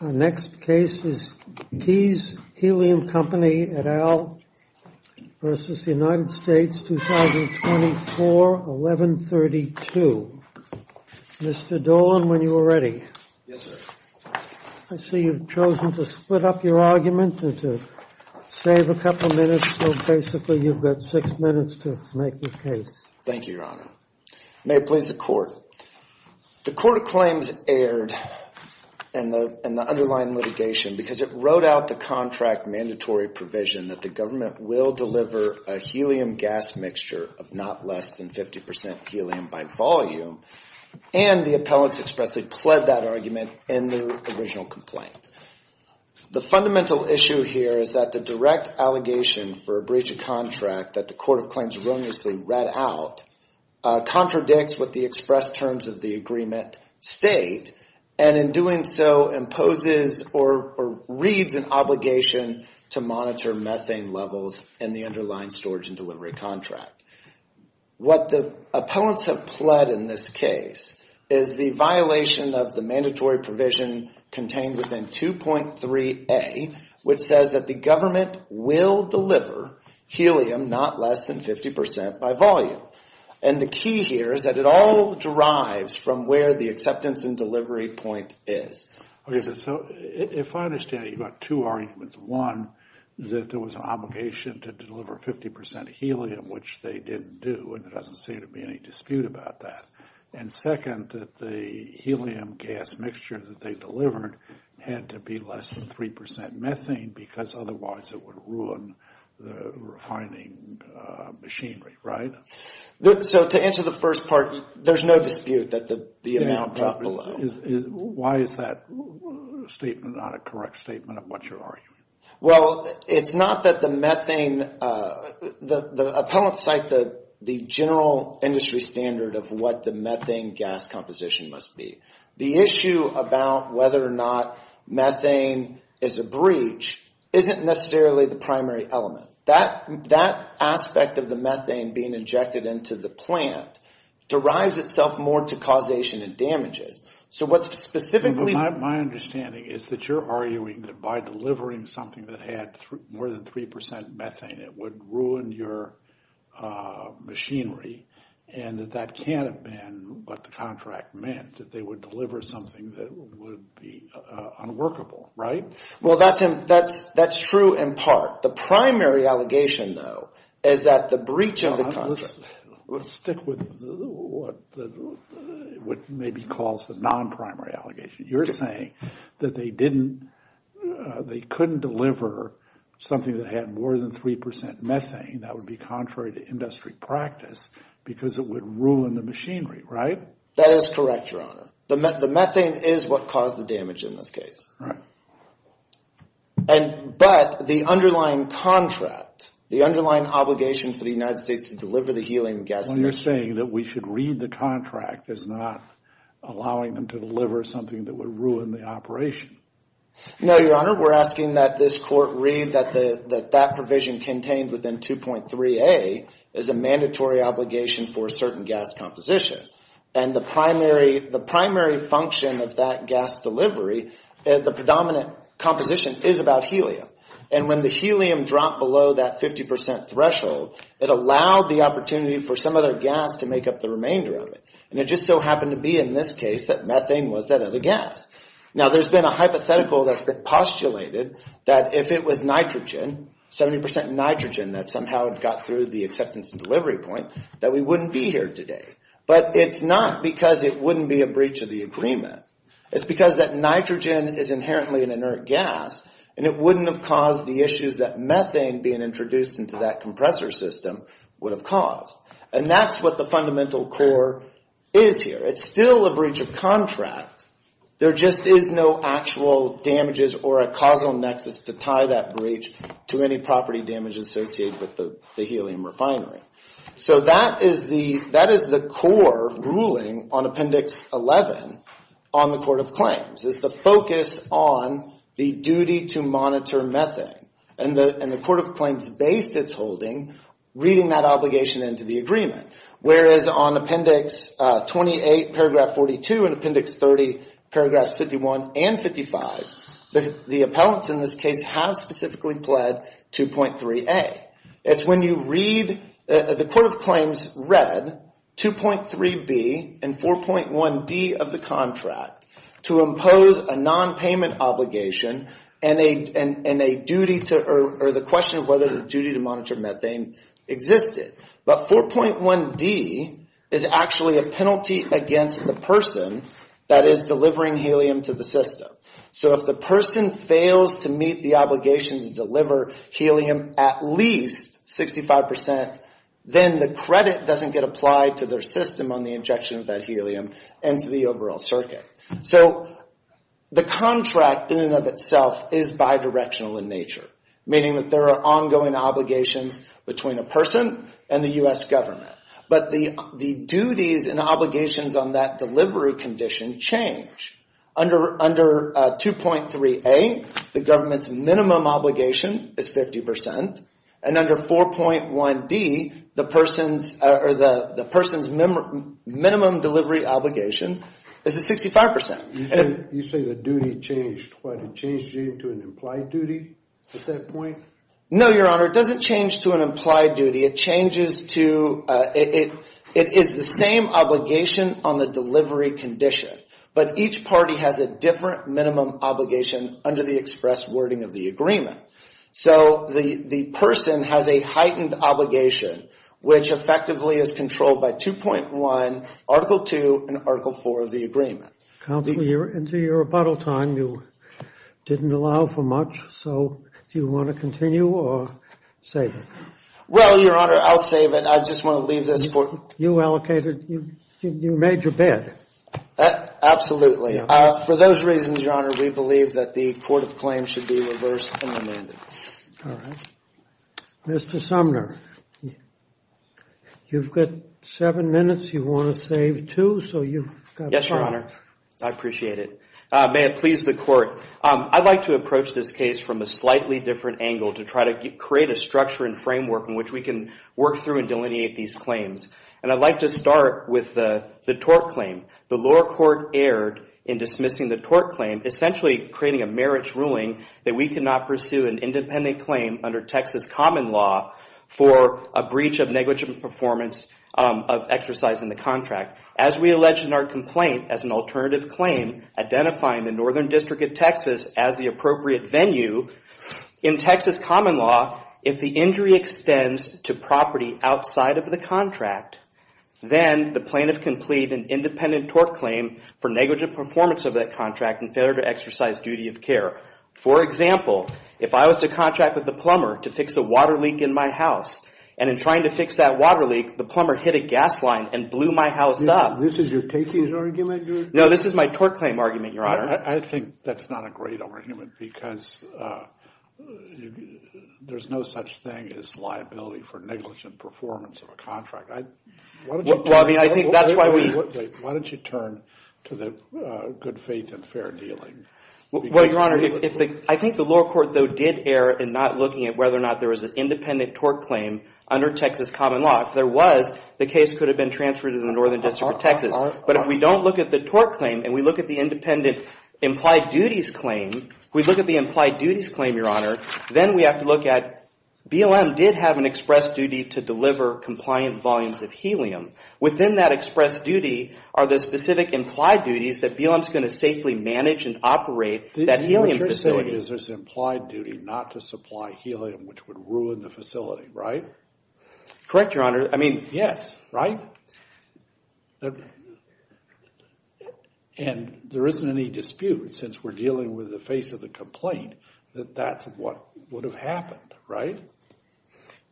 Our next case is Keyes Helium Company, et al. versus the United States, 2024, 1132. Mr. Dolan, when you are ready. Yes, sir. I see you've chosen to split up your argument and to save a couple minutes. So basically you've got six minutes to make your case. Thank you, Your Honor. May it please the court. The Court of Claims erred in the underlying litigation because it wrote out the contract mandatory provision that the government will deliver a helium gas mixture of not less than 50 percent helium by volume. And the appellants expressly pled that argument in their original complaint. The fundamental issue here is that the direct allegation for a breach of contract that the Court of Claims wrongly read out contradicts what the expressed terms of the agreement state, and in doing so imposes or reads an obligation to monitor methane levels in the underlying storage and delivery contract. What the appellants have pled in this case is the violation of the mandatory provision contained within 2.3a, which says that the government will deliver helium not less than 50 percent by volume. And the key here is that it all derives from where the acceptance and delivery point is. Okay, so if I understand it, you've got two arguments. One is that there was an obligation to deliver 50 percent helium, which they didn't do, and there doesn't seem to be any dispute about that. And second, that the helium gas mixture that they delivered had to be less than 3 percent methane because otherwise it would ruin the refining machinery, right? So to answer the first part, there's no dispute that the amount dropped below. Why is that statement not a correct statement of what you're arguing? Well, it's not that the methane – the appellants cite the general industry standard of what the methane gas composition must be. The issue about whether or not methane is a breach isn't necessarily the primary element. That aspect of the methane being injected into the plant derives itself more to causation and damages. So what's specifically – My understanding is that you're arguing that by delivering something that had more than 3 percent methane, it would ruin your machinery and that that can't have been what the contract meant, that they would deliver something that would be unworkable, right? Well, that's true in part. The primary allegation, though, is that the breach of the contract – Let's stick with what maybe calls the non-primary allegation. You're saying that they didn't – they couldn't deliver something that had more than 3 percent methane. That would be contrary to industry practice because it would ruin the machinery, right? That is correct, Your Honor. The methane is what caused the damage in this case. But the underlying contract, the underlying obligation for the United States to deliver the helium gas – Well, you're saying that we should read the contract as not allowing them to deliver something that would ruin the operation. No, Your Honor. We're asking that this court read that that provision contained within 2.3A is a mandatory obligation for a certain gas composition. And the primary function of that gas delivery, the predominant composition, is about helium. And when the helium dropped below that 50 percent threshold, it allowed the opportunity for some other gas to make up the remainder of it. And it just so happened to be in this case that methane was that other gas. Now, there's been a hypothetical that's been postulated that if it was nitrogen, 70 percent nitrogen, that somehow it got through the acceptance and delivery point, that we wouldn't be here today. But it's not because it wouldn't be a breach of the agreement. It's because that nitrogen is inherently an inert gas, and it wouldn't have caused the issues that methane being introduced into that compressor system would have caused. And that's what the fundamental core is here. It's still a breach of contract. There just is no actual damages or a causal nexus to tie that breach to any property damage associated with the helium refinery. So that is the core ruling on Appendix 11 on the Court of Claims, is the focus on the duty to monitor methane. And the Court of Claims based its holding reading that obligation into the agreement. Whereas on Appendix 28, Paragraph 42, and Appendix 30, Paragraphs 51 and 55, the appellants in this case have specifically pled 2.3a. It's when you read, the Court of Claims read 2.3b and 4.1d of the contract to impose a non-payment obligation and the question of whether the duty to monitor methane existed. But 4.1d is actually a penalty against the person that is delivering helium to the system. So if the person fails to meet the obligation to deliver helium at least 65%, then the credit doesn't get applied to their system on the injection of that helium and to the overall circuit. So the contract in and of itself is bidirectional in nature, meaning that there are ongoing obligations between a person and the U.S. government. But the duties and obligations on that delivery condition change. Under 2.3a, the government's minimum obligation is 50%. And under 4.1d, the person's minimum delivery obligation is 65%. You say the duty changed. What, it changed to an implied duty at that point? No, Your Honor, it doesn't change to an implied duty. It changes to, it is the same obligation on the delivery condition, but each party has a different minimum obligation under the express wording of the agreement. So the person has a heightened obligation, which effectively is controlled by 2.1, Article 2, and Article 4 of the agreement. Counselor, you're into your rebuttal time. You didn't allow for much, so do you want to continue or save it? Well, Your Honor, I'll save it. I just want to leave this for— You allocated, you made your bid. Absolutely. For those reasons, Your Honor, we believe that the court of claims should be reversed and amended. All right. Mr. Sumner, you've got seven minutes. You want to save two, so you've got five. Yes, Your Honor. I appreciate it. May it please the court. I'd like to approach this case from a slightly different angle to try to create a structure and framework in which we can work through and delineate these claims. And I'd like to start with the tort claim. The lower court erred in dismissing the tort claim, essentially creating a marriage ruling that we cannot pursue an independent claim under Texas common law for a breach of negligent performance of exercising the contract. As we allege in our complaint as an alternative claim, identifying the northern district of Texas as the appropriate venue, in Texas common law, if the injury extends to property outside of the contract, then the plaintiff can plead an independent tort claim for negligent performance of that contract and failure to exercise duty of care. For example, if I was to contract with the plumber to fix the water leak in my house, and in trying to fix that water leak, the plumber hit a gas line and blew my house up. This is your takings argument? No, this is my tort claim argument, Your Honor. I think that's not a great argument because there's no such thing as liability for negligent performance of a contract. Why don't you turn to the good faith and fair dealing? Well, Your Honor, I think the lower court, though, did err in not looking at whether or not there was an independent tort claim under Texas common law. If there was, the case could have been transferred to the northern district of Texas. But if we don't look at the tort claim and we look at the independent implied duties claim, we look at the implied duties claim, Your Honor, then we have to look at BLM did have an express duty to deliver compliant volumes of helium. Within that express duty are the specific implied duties that BLM's going to safely manage and operate that helium facility. What you're saying is there's implied duty not to supply helium, which would ruin the facility, right? Correct, Your Honor. I mean... Yes, right? And there isn't any dispute, since we're dealing with the face of the complaint, that that's what would have happened, right?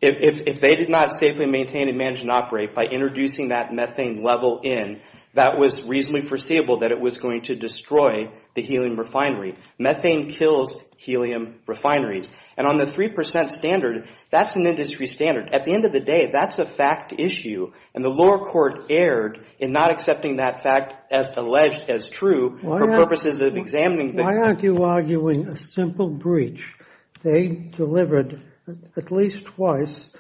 If they did not safely maintain and manage and operate by introducing that methane level in, that was reasonably foreseeable that it was going to destroy the helium refinery. Methane kills helium refineries. And on the 3% standard, that's an industry standard. At the end of the day, that's a fact issue. And the lower court erred in not accepting that fact as alleged as true for purposes of examining... Why aren't you arguing a simple breach? They delivered at least twice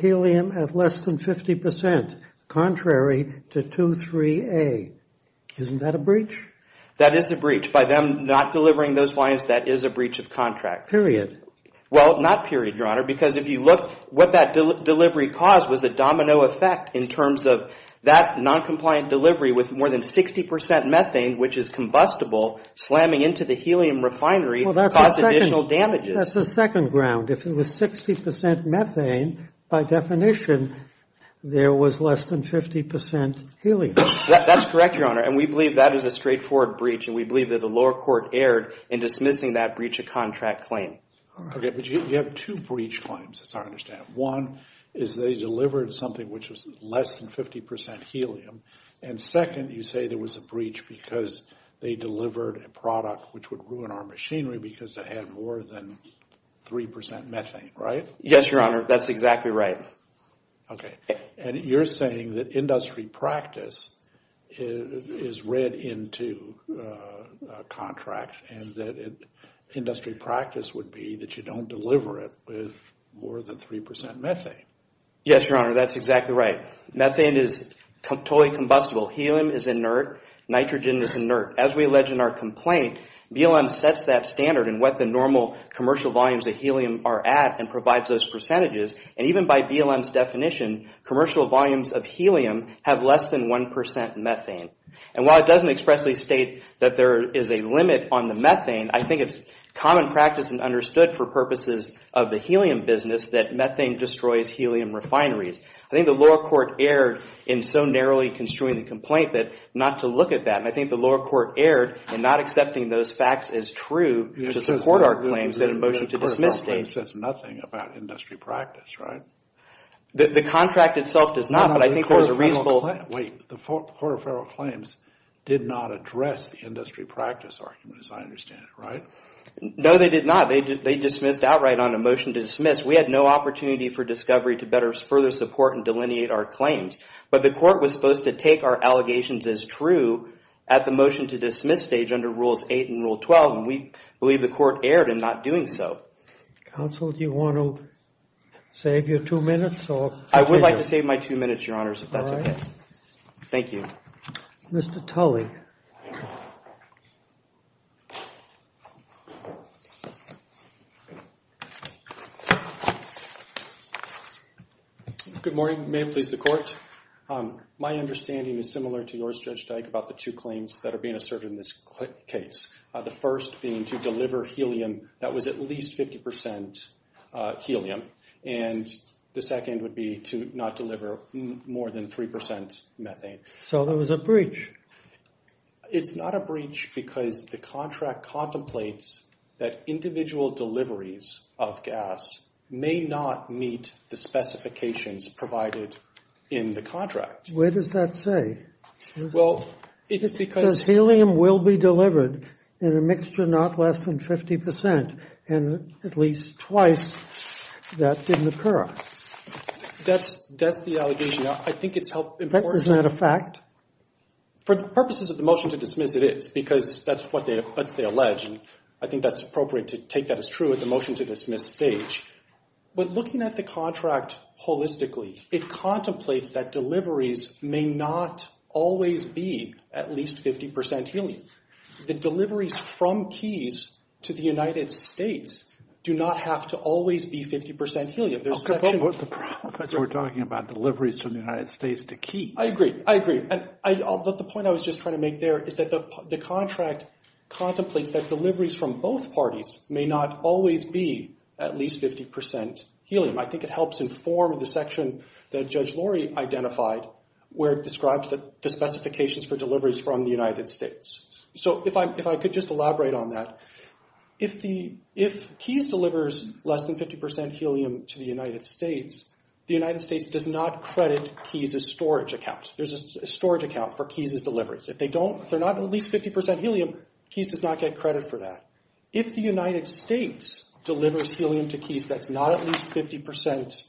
helium at less than 50%, contrary to 23A. Isn't that a breach? That is a breach. By them not delivering those volumes, that is a breach of contract. Period. Well, not period, Your Honor, because if you look what that delivery caused was a domino effect in terms of that non-compliant delivery with more than 60% methane, which is combustible, slamming into the helium refinery caused additional damages. That's the second ground. If it was 60% methane, by definition, there was less than 50% helium. That's correct, Your Honor. And we believe that is a straightforward breach, and we believe that the lower court erred in dismissing that breach of contract claim. Okay, but you have two breach claims, as I understand. One is they delivered something which was less than 50% helium. And second, you say there was a breach because they delivered a product which would ruin our machinery because it had more than 3% methane, right? Yes, Your Honor. That's exactly right. Okay. And you're saying that industry practice is read into contracts and that industry practice would be that you don't deliver it with more than 3% methane. Yes, Your Honor. That's exactly right. Methane is totally combustible. Helium is inert. Nitrogen is inert. As we allege in our complaint, BLM sets that standard in what the normal commercial volumes of helium are at and provides those percentages. And even by BLM's definition, commercial volumes of helium have less than 1% methane. And while it doesn't expressly state that there is a limit on the methane, I think it's common practice and understood for purposes of the helium business that methane destroys helium refineries. I think the lower court erred in so narrowly construing the complaint that not to look at that, and I think the lower court erred in not accepting those facts as true to support our claims that a motion to dismiss states. The court of federal claims says nothing about industry practice, right? The contract itself does not, but I think there's a reasonable. Wait. The court of federal claims did not address the industry practice argument, as I understand it, right? No, they did not. They dismissed outright on a motion to dismiss. We had no opportunity for discovery to further support and delineate our claims, but the court was supposed to take our allegations as true at the motion to dismiss stage under Rules 8 and Rule 12, and we believe the court erred in not doing so. Counsel, do you want to save your two minutes? I would like to save my two minutes, Your Honors, if that's okay. All right. Thank you. Mr. Tully. Good morning. May it please the court. My understanding is similar to yours, Judge Dyke, about the two claims that are being asserted in this case, the first being to deliver helium that was at least 50% helium, and the second would be to not deliver more than 3% methane. So there was a breach. It's not a breach because the contract contemplates that individual deliveries of gas may not meet the specifications provided in the contract. Where does that say? Well, it's because— So helium will be delivered in a mixture not less than 50%, and at least twice, that didn't occur. That's the allegation. I think it's held important. Isn't that a fact? For the purposes of the motion to dismiss, it is, because that's what they allege, and I think that's appropriate to take that as true at the motion to dismiss stage. But looking at the contract holistically, it contemplates that deliveries may not always be at least 50% helium. The deliveries from Keys to the United States do not have to always be 50% helium. But we're talking about deliveries from the United States to Keys. I agree. I agree. The point I was just trying to make there is that the contract contemplates that deliveries from both parties may not always be at least 50% helium. I think it helps inform the section that Judge Lori identified where it describes the specifications for deliveries from the United States. So if I could just elaborate on that. If Keys delivers less than 50% helium to the United States, the United States does not credit Keys' storage account. There's a storage account for Keys' deliveries. If they're not at least 50% helium, Keys does not get credit for that. If the United States delivers helium to Keys that's not at least 50%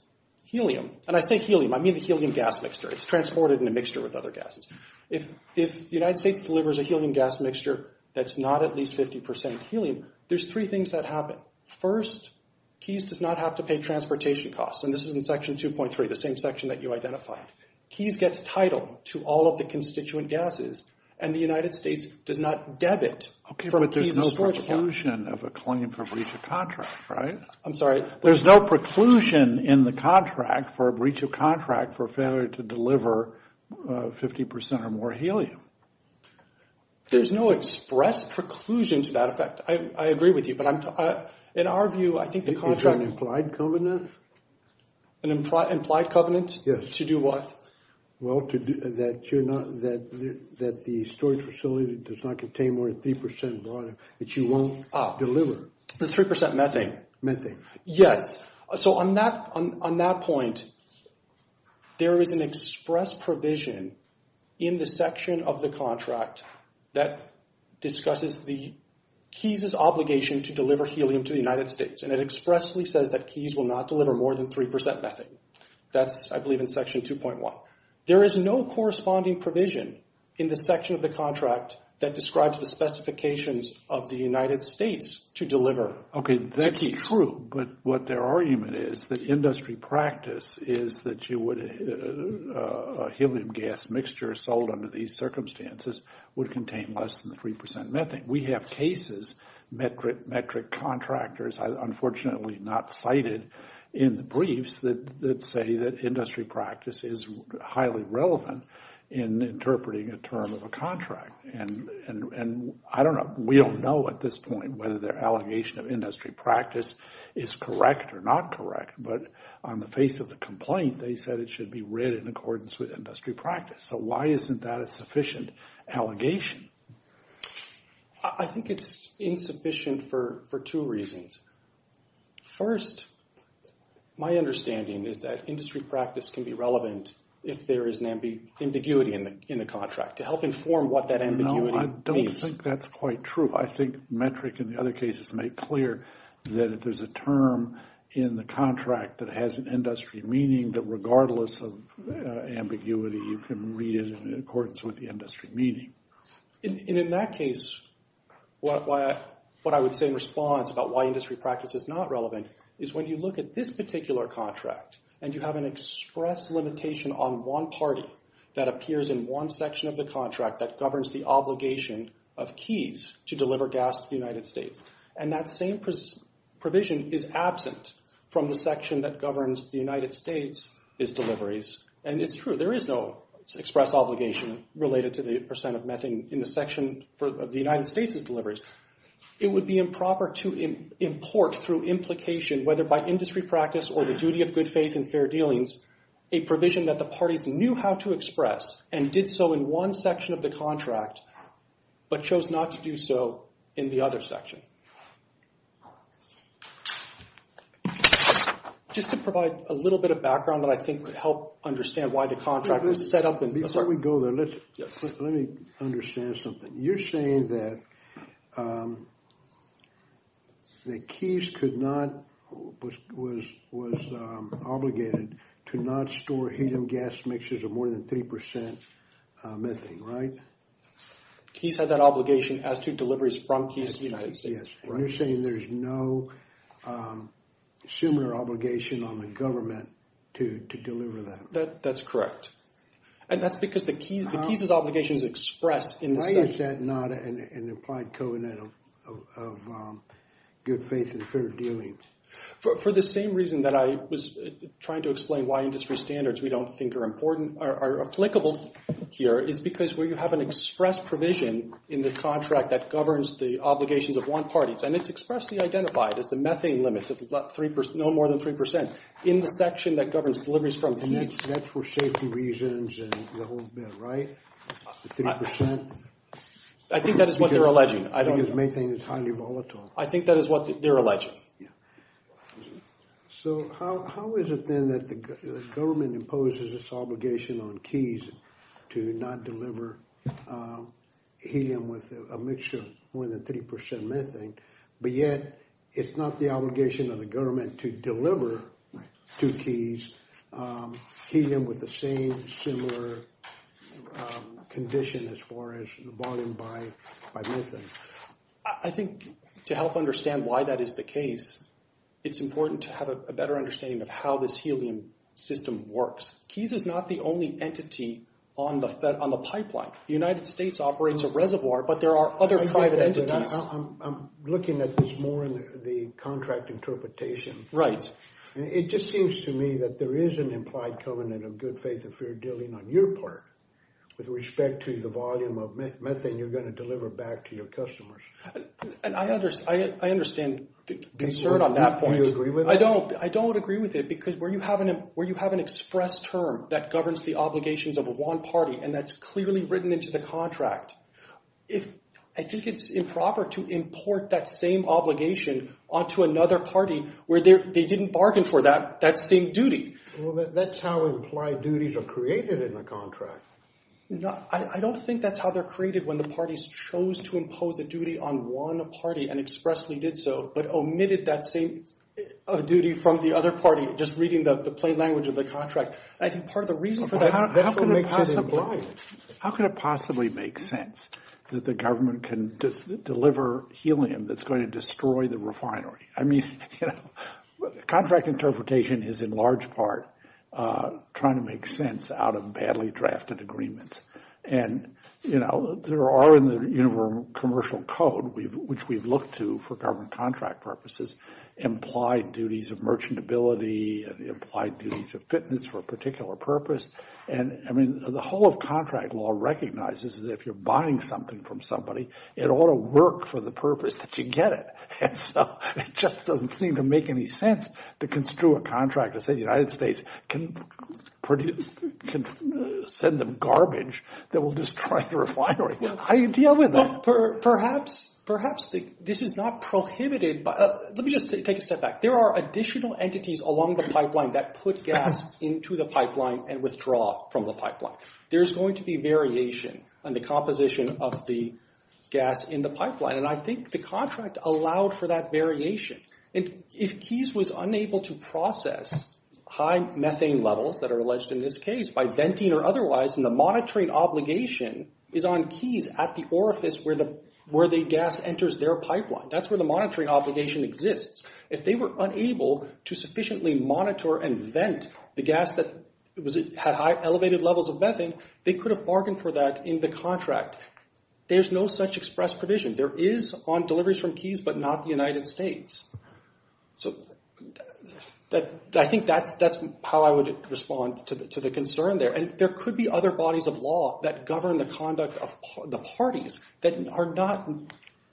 helium— and I say helium, I mean the helium gas mixture. It's transported in a mixture with other gases. If the United States delivers a helium gas mixture that's not at least 50% helium, there's three things that happen. First, Keys does not have to pay transportation costs, and this is in Section 2.3, the same section that you identified. Keys gets title to all of the constituent gases, and the United States does not debit from Keys' storage account. Okay, but there's no preclusion of a claim for breach of contract, right? I'm sorry? There's no preclusion in the contract for breach of contract for failure to deliver 50% or more helium. There's no express preclusion to that effect. I agree with you, but in our view, I think the contract— Is there an implied covenant? An implied covenant? Yes. To do what? Well, that the storage facility does not contain more than 3% water that you won't deliver. The 3% methane. Yes. So on that point, there is an express provision in the section of the contract that discusses the Keys' obligation to deliver helium to the United States, and it expressly says that Keys will not deliver more than 3% methane. That's, I believe, in Section 2.1. There is no corresponding provision in the section of the contract that describes the specifications of the United States to deliver. Okay, that's true, but what their argument is, that industry practice is that a helium gas mixture sold under these circumstances would contain less than 3% methane. We have cases, metric contractors, unfortunately not cited in the briefs, that say that industry practice is highly relevant in interpreting a term of a contract. And I don't know. We don't know at this point whether their allegation of industry practice is correct or not correct, but on the face of the complaint, they said it should be read in accordance with industry practice. So why isn't that a sufficient allegation? I think it's insufficient for two reasons. First, my understanding is that industry practice can be relevant if there is an ambiguity in the contract to help inform what that ambiguity means. No, I don't think that's quite true. I think metric and the other cases make clear that if there's a term in the contract that has an industry meaning, that regardless of ambiguity, you can read it in accordance with the industry meaning. And in that case, what I would say in response about why industry practice is not relevant is when you look at this particular contract and you have an express limitation on one party that appears in one section of the contract that governs the obligation of keys to deliver gas to the United States, and that same provision is absent from the section that governs the United States, is deliveries, and it's true. There is no express obligation related to the percent of methane in the section for the United States' deliveries. It would be improper to import through implication, whether by industry practice or the duty of good faith and fair dealings, a provision that the parties knew how to express and did so in one section of the contract but chose not to do so in the other section. Okay. Just to provide a little bit of background that I think could help understand why the contract was set up. Before we go there, let me understand something. You're saying that Keys was obligated to not store helium gas mixtures of more than 3% methane, right? Keys had that obligation as to deliveries from Keys to the United States. You're saying there's no similar obligation on the government to deliver that. That's correct. And that's because the Keys' obligation is expressed in the section. Why is that not an implied covenant of good faith and fair dealings? For the same reason that I was trying to explain why industry standards we don't think are applicable here is because where you have an express provision in the contract that governs the obligations of one party, and it's expressly identified as the methane limits of no more than 3% in the section that governs deliveries from Keys. And that's for safety reasons and the whole bit, right? The 3%? I think that is what they're alleging. Methane is highly volatile. I think that is what they're alleging. So how is it then that the government imposes its obligation on Keys to not deliver helium with a mixture of more than 3% methane, but yet it's not the obligation of the government to deliver to Keys helium with the same similar condition as far as bought in by methane? I think to help understand why that is the case, it's important to have a better understanding of how this helium system works. Keys is not the only entity on the pipeline. The United States operates a reservoir, but there are other private entities. I'm looking at this more in the contract interpretation. Right. It just seems to me that there is an implied covenant of good faith and fair dealing on your part with respect to the volume of methane you're going to deliver back to your customers. I understand the concern on that point. Do you agree with that? I don't agree with it because where you have an express term that governs the obligations of one party and that's clearly written into the contract, I think it's improper to import that same obligation onto another party where they didn't bargain for that same duty. Well, that's how implied duties are created in the contract. I don't think that's how they're created when the parties chose to impose a duty on one party and expressly did so, but omitted that same duty from the other party, just reading the plain language of the contract. I think part of the reason for that- How can it possibly make sense that the government can deliver helium that's going to destroy the refinery? Contract interpretation is in large part trying to make sense out of badly drafted agreements. And there are in the commercial code, which we've looked to for government contract purposes, implied duties of merchantability, implied duties of fitness for a particular purpose. The whole of contract law recognizes that if you're buying something from somebody, it ought to work for the purpose that you get it. And so it just doesn't seem to make any sense to construe a contract that says the United States can send them garbage that will destroy the refinery. How do you deal with that? Perhaps this is not prohibited. Let me just take a step back. There are additional entities along the pipeline that put gas into the pipeline and withdraw from the pipeline. There's going to be variation on the composition of the gas in the pipeline. And I think the contract allowed for that variation. If Keyes was unable to process high methane levels that are alleged in this case by venting or otherwise, then the monitoring obligation is on Keyes at the orifice where the gas enters their pipeline. That's where the monitoring obligation exists. If they were unable to sufficiently monitor and vent the gas that had high elevated levels of methane, they could have bargained for that in the contract. There's no such express provision. There is on deliveries from Keyes but not the United States. So I think that's how I would respond to the concern there. And there could be other bodies of law that govern the conduct of the parties that are not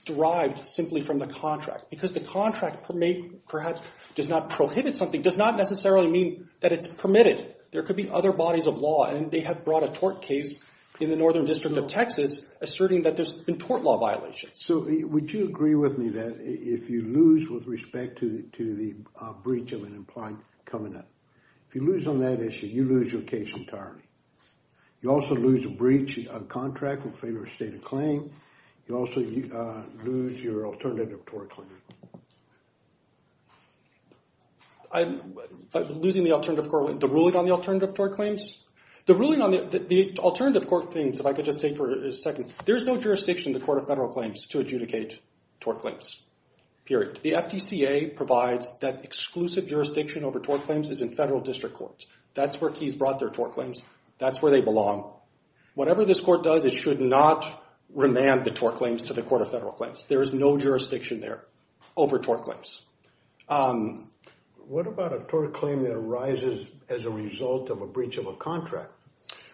derived simply from the contract. Because the contract perhaps does not prohibit something, does not necessarily mean that it's permitted. There could be other bodies of law, and they have brought a tort case in the Northern District of Texas, asserting that there's been tort law violations. So would you agree with me that if you lose with respect to the breach of an implied covenant, if you lose on that issue, you lose your case entirely. You also lose a breach of contract with failure of state of claim. You also lose your alternative tort claim. Losing the alternative court, the ruling on the alternative tort claims? The ruling on the alternative court claims, if I could just take for a second, there's no jurisdiction in the Court of Federal Claims to adjudicate tort claims, period. The FDCA provides that exclusive jurisdiction over tort claims is in federal district courts. That's where Keyes brought their tort claims. That's where they belong. Whatever this court does, it should not remand the tort claims to the Court of Federal Claims. There is no jurisdiction there over tort claims. What about a tort claim that arises as a result of a breach of a contract?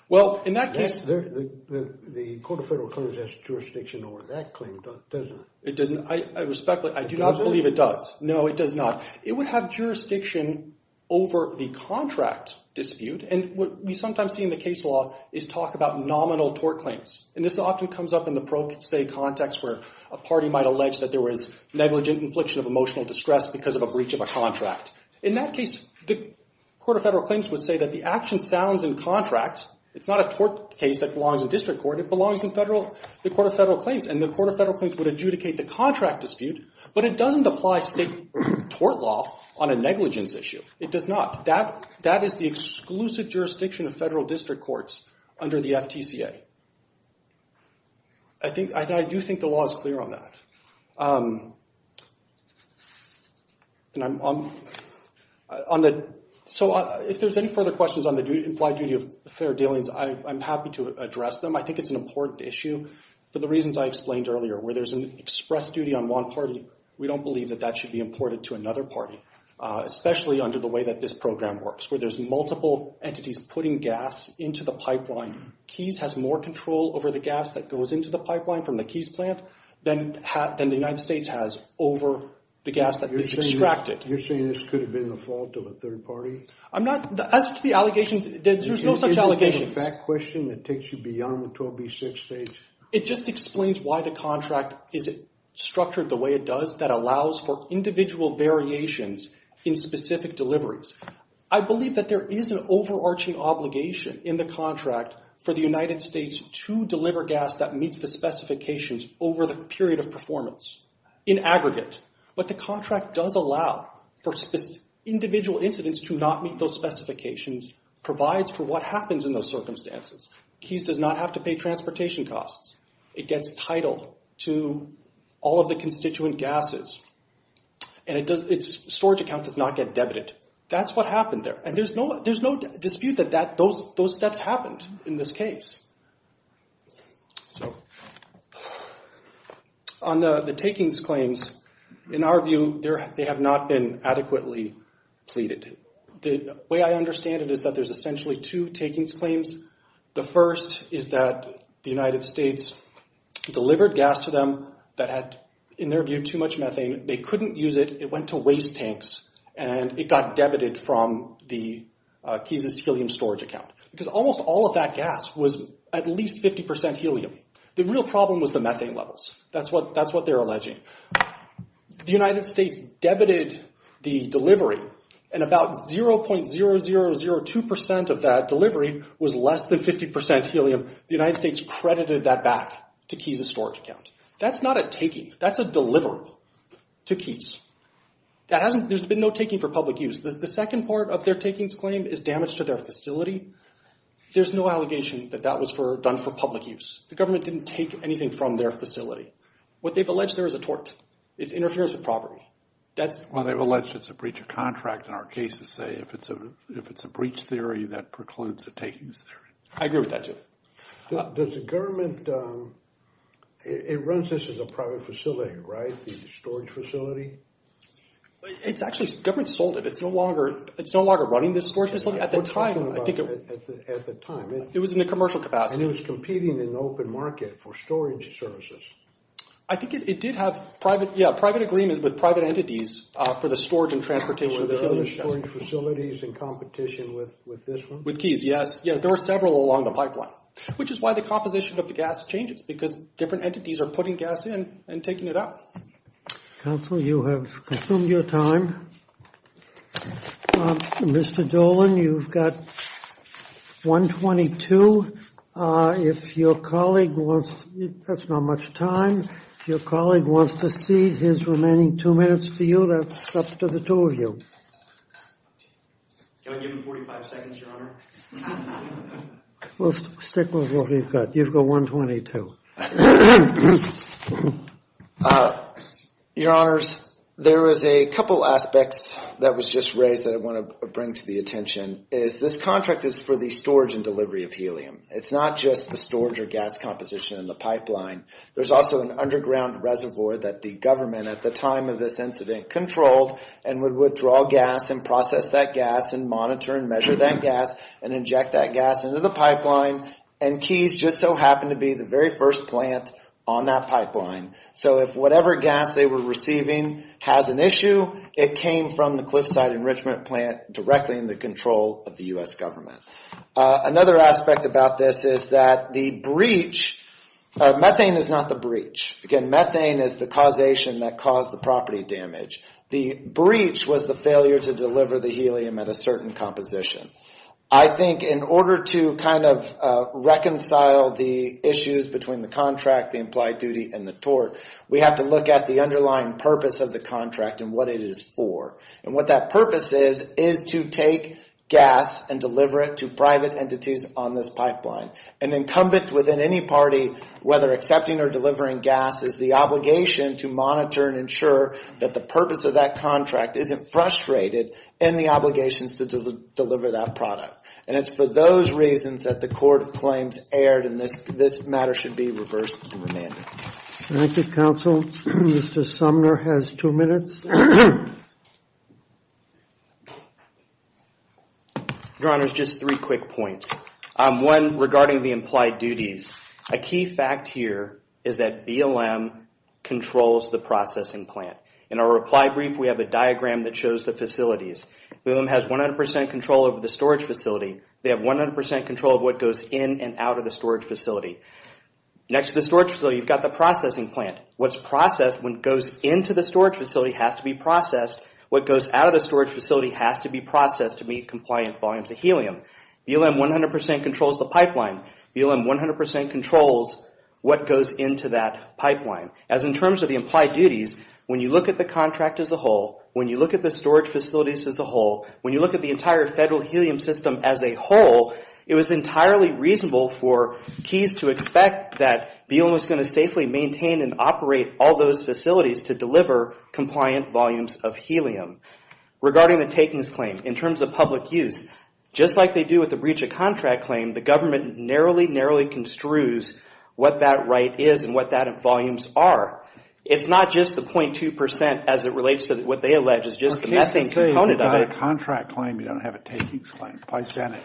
Well, in that case— The Court of Federal Claims has jurisdiction over that claim, doesn't it? It doesn't. I respectfully—I do not believe it does. No, it does not. It would have jurisdiction over the contract dispute, and what we sometimes see in the case law is talk about nominal tort claims. And this often comes up in the pro se context where a party might allege that there was negligent infliction of emotional distress because of a breach of a contract. In that case, the Court of Federal Claims would say that the action sounds in contract. It's not a tort case that belongs in district court. It belongs in the Court of Federal Claims, and the Court of Federal Claims would adjudicate the contract dispute, but it doesn't apply state tort law on a negligence issue. It does not. That is the exclusive jurisdiction of federal district courts under the FDCA. I do think the law is clear on that. So, if there's any further questions on the implied duty of fair dealings, I'm happy to address them. I think it's an important issue for the reasons I explained earlier. Where there's an express duty on one party, we don't believe that that should be imported to another party, especially under the way that this program works, where there's multiple entities putting gas into the pipeline. Keys has more control over the gas that goes into the pipeline from the Keys plant than the United States has over the gas that is extracted. You're saying this could have been the fault of a third party? As to the allegations, there's no such allegations. Is there a fact question that takes you beyond the 12B6 stage? It just explains why the contract is structured the way it does, that allows for individual variations in specific deliveries. I believe that there is an overarching obligation in the contract for the United States to deliver gas that meets the specifications over the period of performance, in aggregate. But the contract does allow for individual incidents to not meet those specifications, provides for what happens in those circumstances. Keys does not have to pay transportation costs. It gets title to all of the constituent gases. And its storage account does not get debited. That's what happened there. And there's no dispute that those steps happened in this case. On the takings claims, in our view, they have not been adequately pleaded. The way I understand it is that there's essentially two takings claims. The first is that the United States delivered gas to them that had, in their view, too much methane. They couldn't use it. It went to waste tanks, and it got debited from the Keys' helium storage account. Because almost all of that gas was at least 50% helium. The real problem was the methane levels. That's what they're alleging. The United States debited the delivery, and about 0.0002% of that delivery was less than 50% helium. The United States credited that back to Keys' storage account. That's not a taking. That's a deliverable to Keys. There's been no taking for public use. The second part of their takings claim is damage to their facility. There's no allegation that that was done for public use. The government didn't take anything from their facility. What they've alleged there is a tort. It interferes with property. Well, they've alleged it's a breach of contract in our case to say if it's a breach theory, that precludes a takings theory. I agree with that, too. Does the government—it runs this as a private facility, right, the storage facility? It's actually—the government sold it. It's no longer running this storage facility. At the time, I think it— At the time. It was in a commercial capacity. And it was competing in the open market for storage services. I think it did have private—yeah, private agreement with private entities for the storage and transportation of the helium. Were there other storage facilities in competition with this one? With Keys, yes. Yes, there were several along the pipeline, which is why the composition of the gas changes because different entities are putting gas in and taking it out. Counsel, you have consumed your time. Mr. Dolan, you've got 1.22. If your colleague wants to—that's not much time. If your colleague wants to cede his remaining two minutes to you, that's up to the two of you. Can I give him 45 seconds, Your Honor? We'll stick with what he's got. You've got 1.22. Your Honors, there was a couple aspects that was just raised that I want to bring to the attention, is this contract is for the storage and delivery of helium. It's not just the storage or gas composition in the pipeline. There's also an underground reservoir that the government, at the time of this incident, controlled and would withdraw gas and process that gas and monitor and measure that gas and inject that gas into the pipeline. Keys just so happened to be the very first plant on that pipeline. So if whatever gas they were receiving has an issue, it came from the Cliffside Enrichment Plant directly in the control of the U.S. government. Another aspect about this is that the breach— methane is not the breach. Again, methane is the causation that caused the property damage. The breach was the failure to deliver the helium at a certain composition. I think in order to kind of reconcile the issues between the contract, the implied duty, and the tort, we have to look at the underlying purpose of the contract and what it is for. And what that purpose is is to take gas and deliver it to private entities on this pipeline. An incumbent within any party, whether accepting or delivering gas, is the obligation to monitor and ensure that the purpose of that contract isn't frustrated in the obligations to deliver that product. And it's for those reasons that the Court of Claims erred and this matter should be reversed and remanded. Thank you, counsel. Mr. Sumner has two minutes. Your Honor, just three quick points. One, regarding the implied duties. A key fact here is that BLM controls the processing plant. In our reply brief, we have a diagram that shows the facilities. BLM has 100% control over the storage facility. They have 100% control of what goes in and out of the storage facility. Next to the storage facility, you've got the processing plant. What's processed when it goes into the storage facility has to be processed. What goes out of the storage facility has to be processed to meet compliant volumes of helium. BLM 100% controls the pipeline. BLM 100% controls what goes into that pipeline. As in terms of the implied duties, when you look at the contract as a whole, when you look at the storage facilities as a whole, when you look at the entire federal helium system as a whole, it was entirely reasonable for keys to expect that BLM was going to safely maintain and operate all those facilities to deliver compliant volumes of helium. Regarding the takings claim, in terms of public use, just like they do with the breach of contract claim, the government narrowly, narrowly construes what that right is and what that volumes are. It's not just the 0.2% as it relates to what they allege is just the methane component of it. If you've got a contract claim, you don't have a takings claim. Why is that?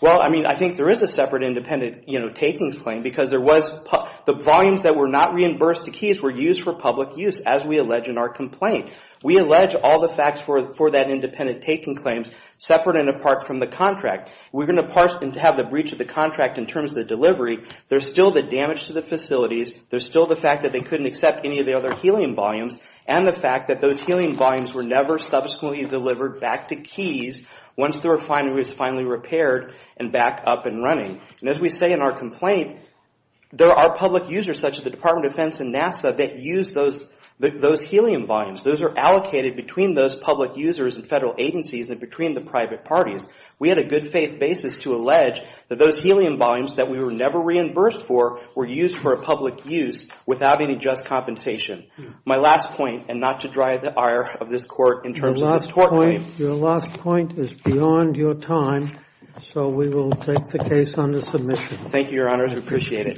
I think there is a separate independent takings claim because the volumes that were not reimbursed to keys were used for public use, as we allege in our complaint. We allege all the facts for that independent taking claim separate and apart from the contract. We're going to parse and have the breach of the contract in terms of the delivery. There's still the damage to the facilities. There's still the fact that they couldn't accept any of the other helium volumes and the fact that those helium volumes were never subsequently delivered back to keys once the refinery was finally repaired and back up and running. As we say in our complaint, there are public users such as the Department of Defense and NASA that use those helium volumes. Those are allocated between those public users and federal agencies and between the private parties. We had a good faith basis to allege that those helium volumes that we were never reimbursed for were used for a public use without any just compensation. My last point, and not to drive the ire of this Court in terms of the tort claim. Your last point is beyond your time, so we will take the case under submission. Thank you, Your Honors. We appreciate it.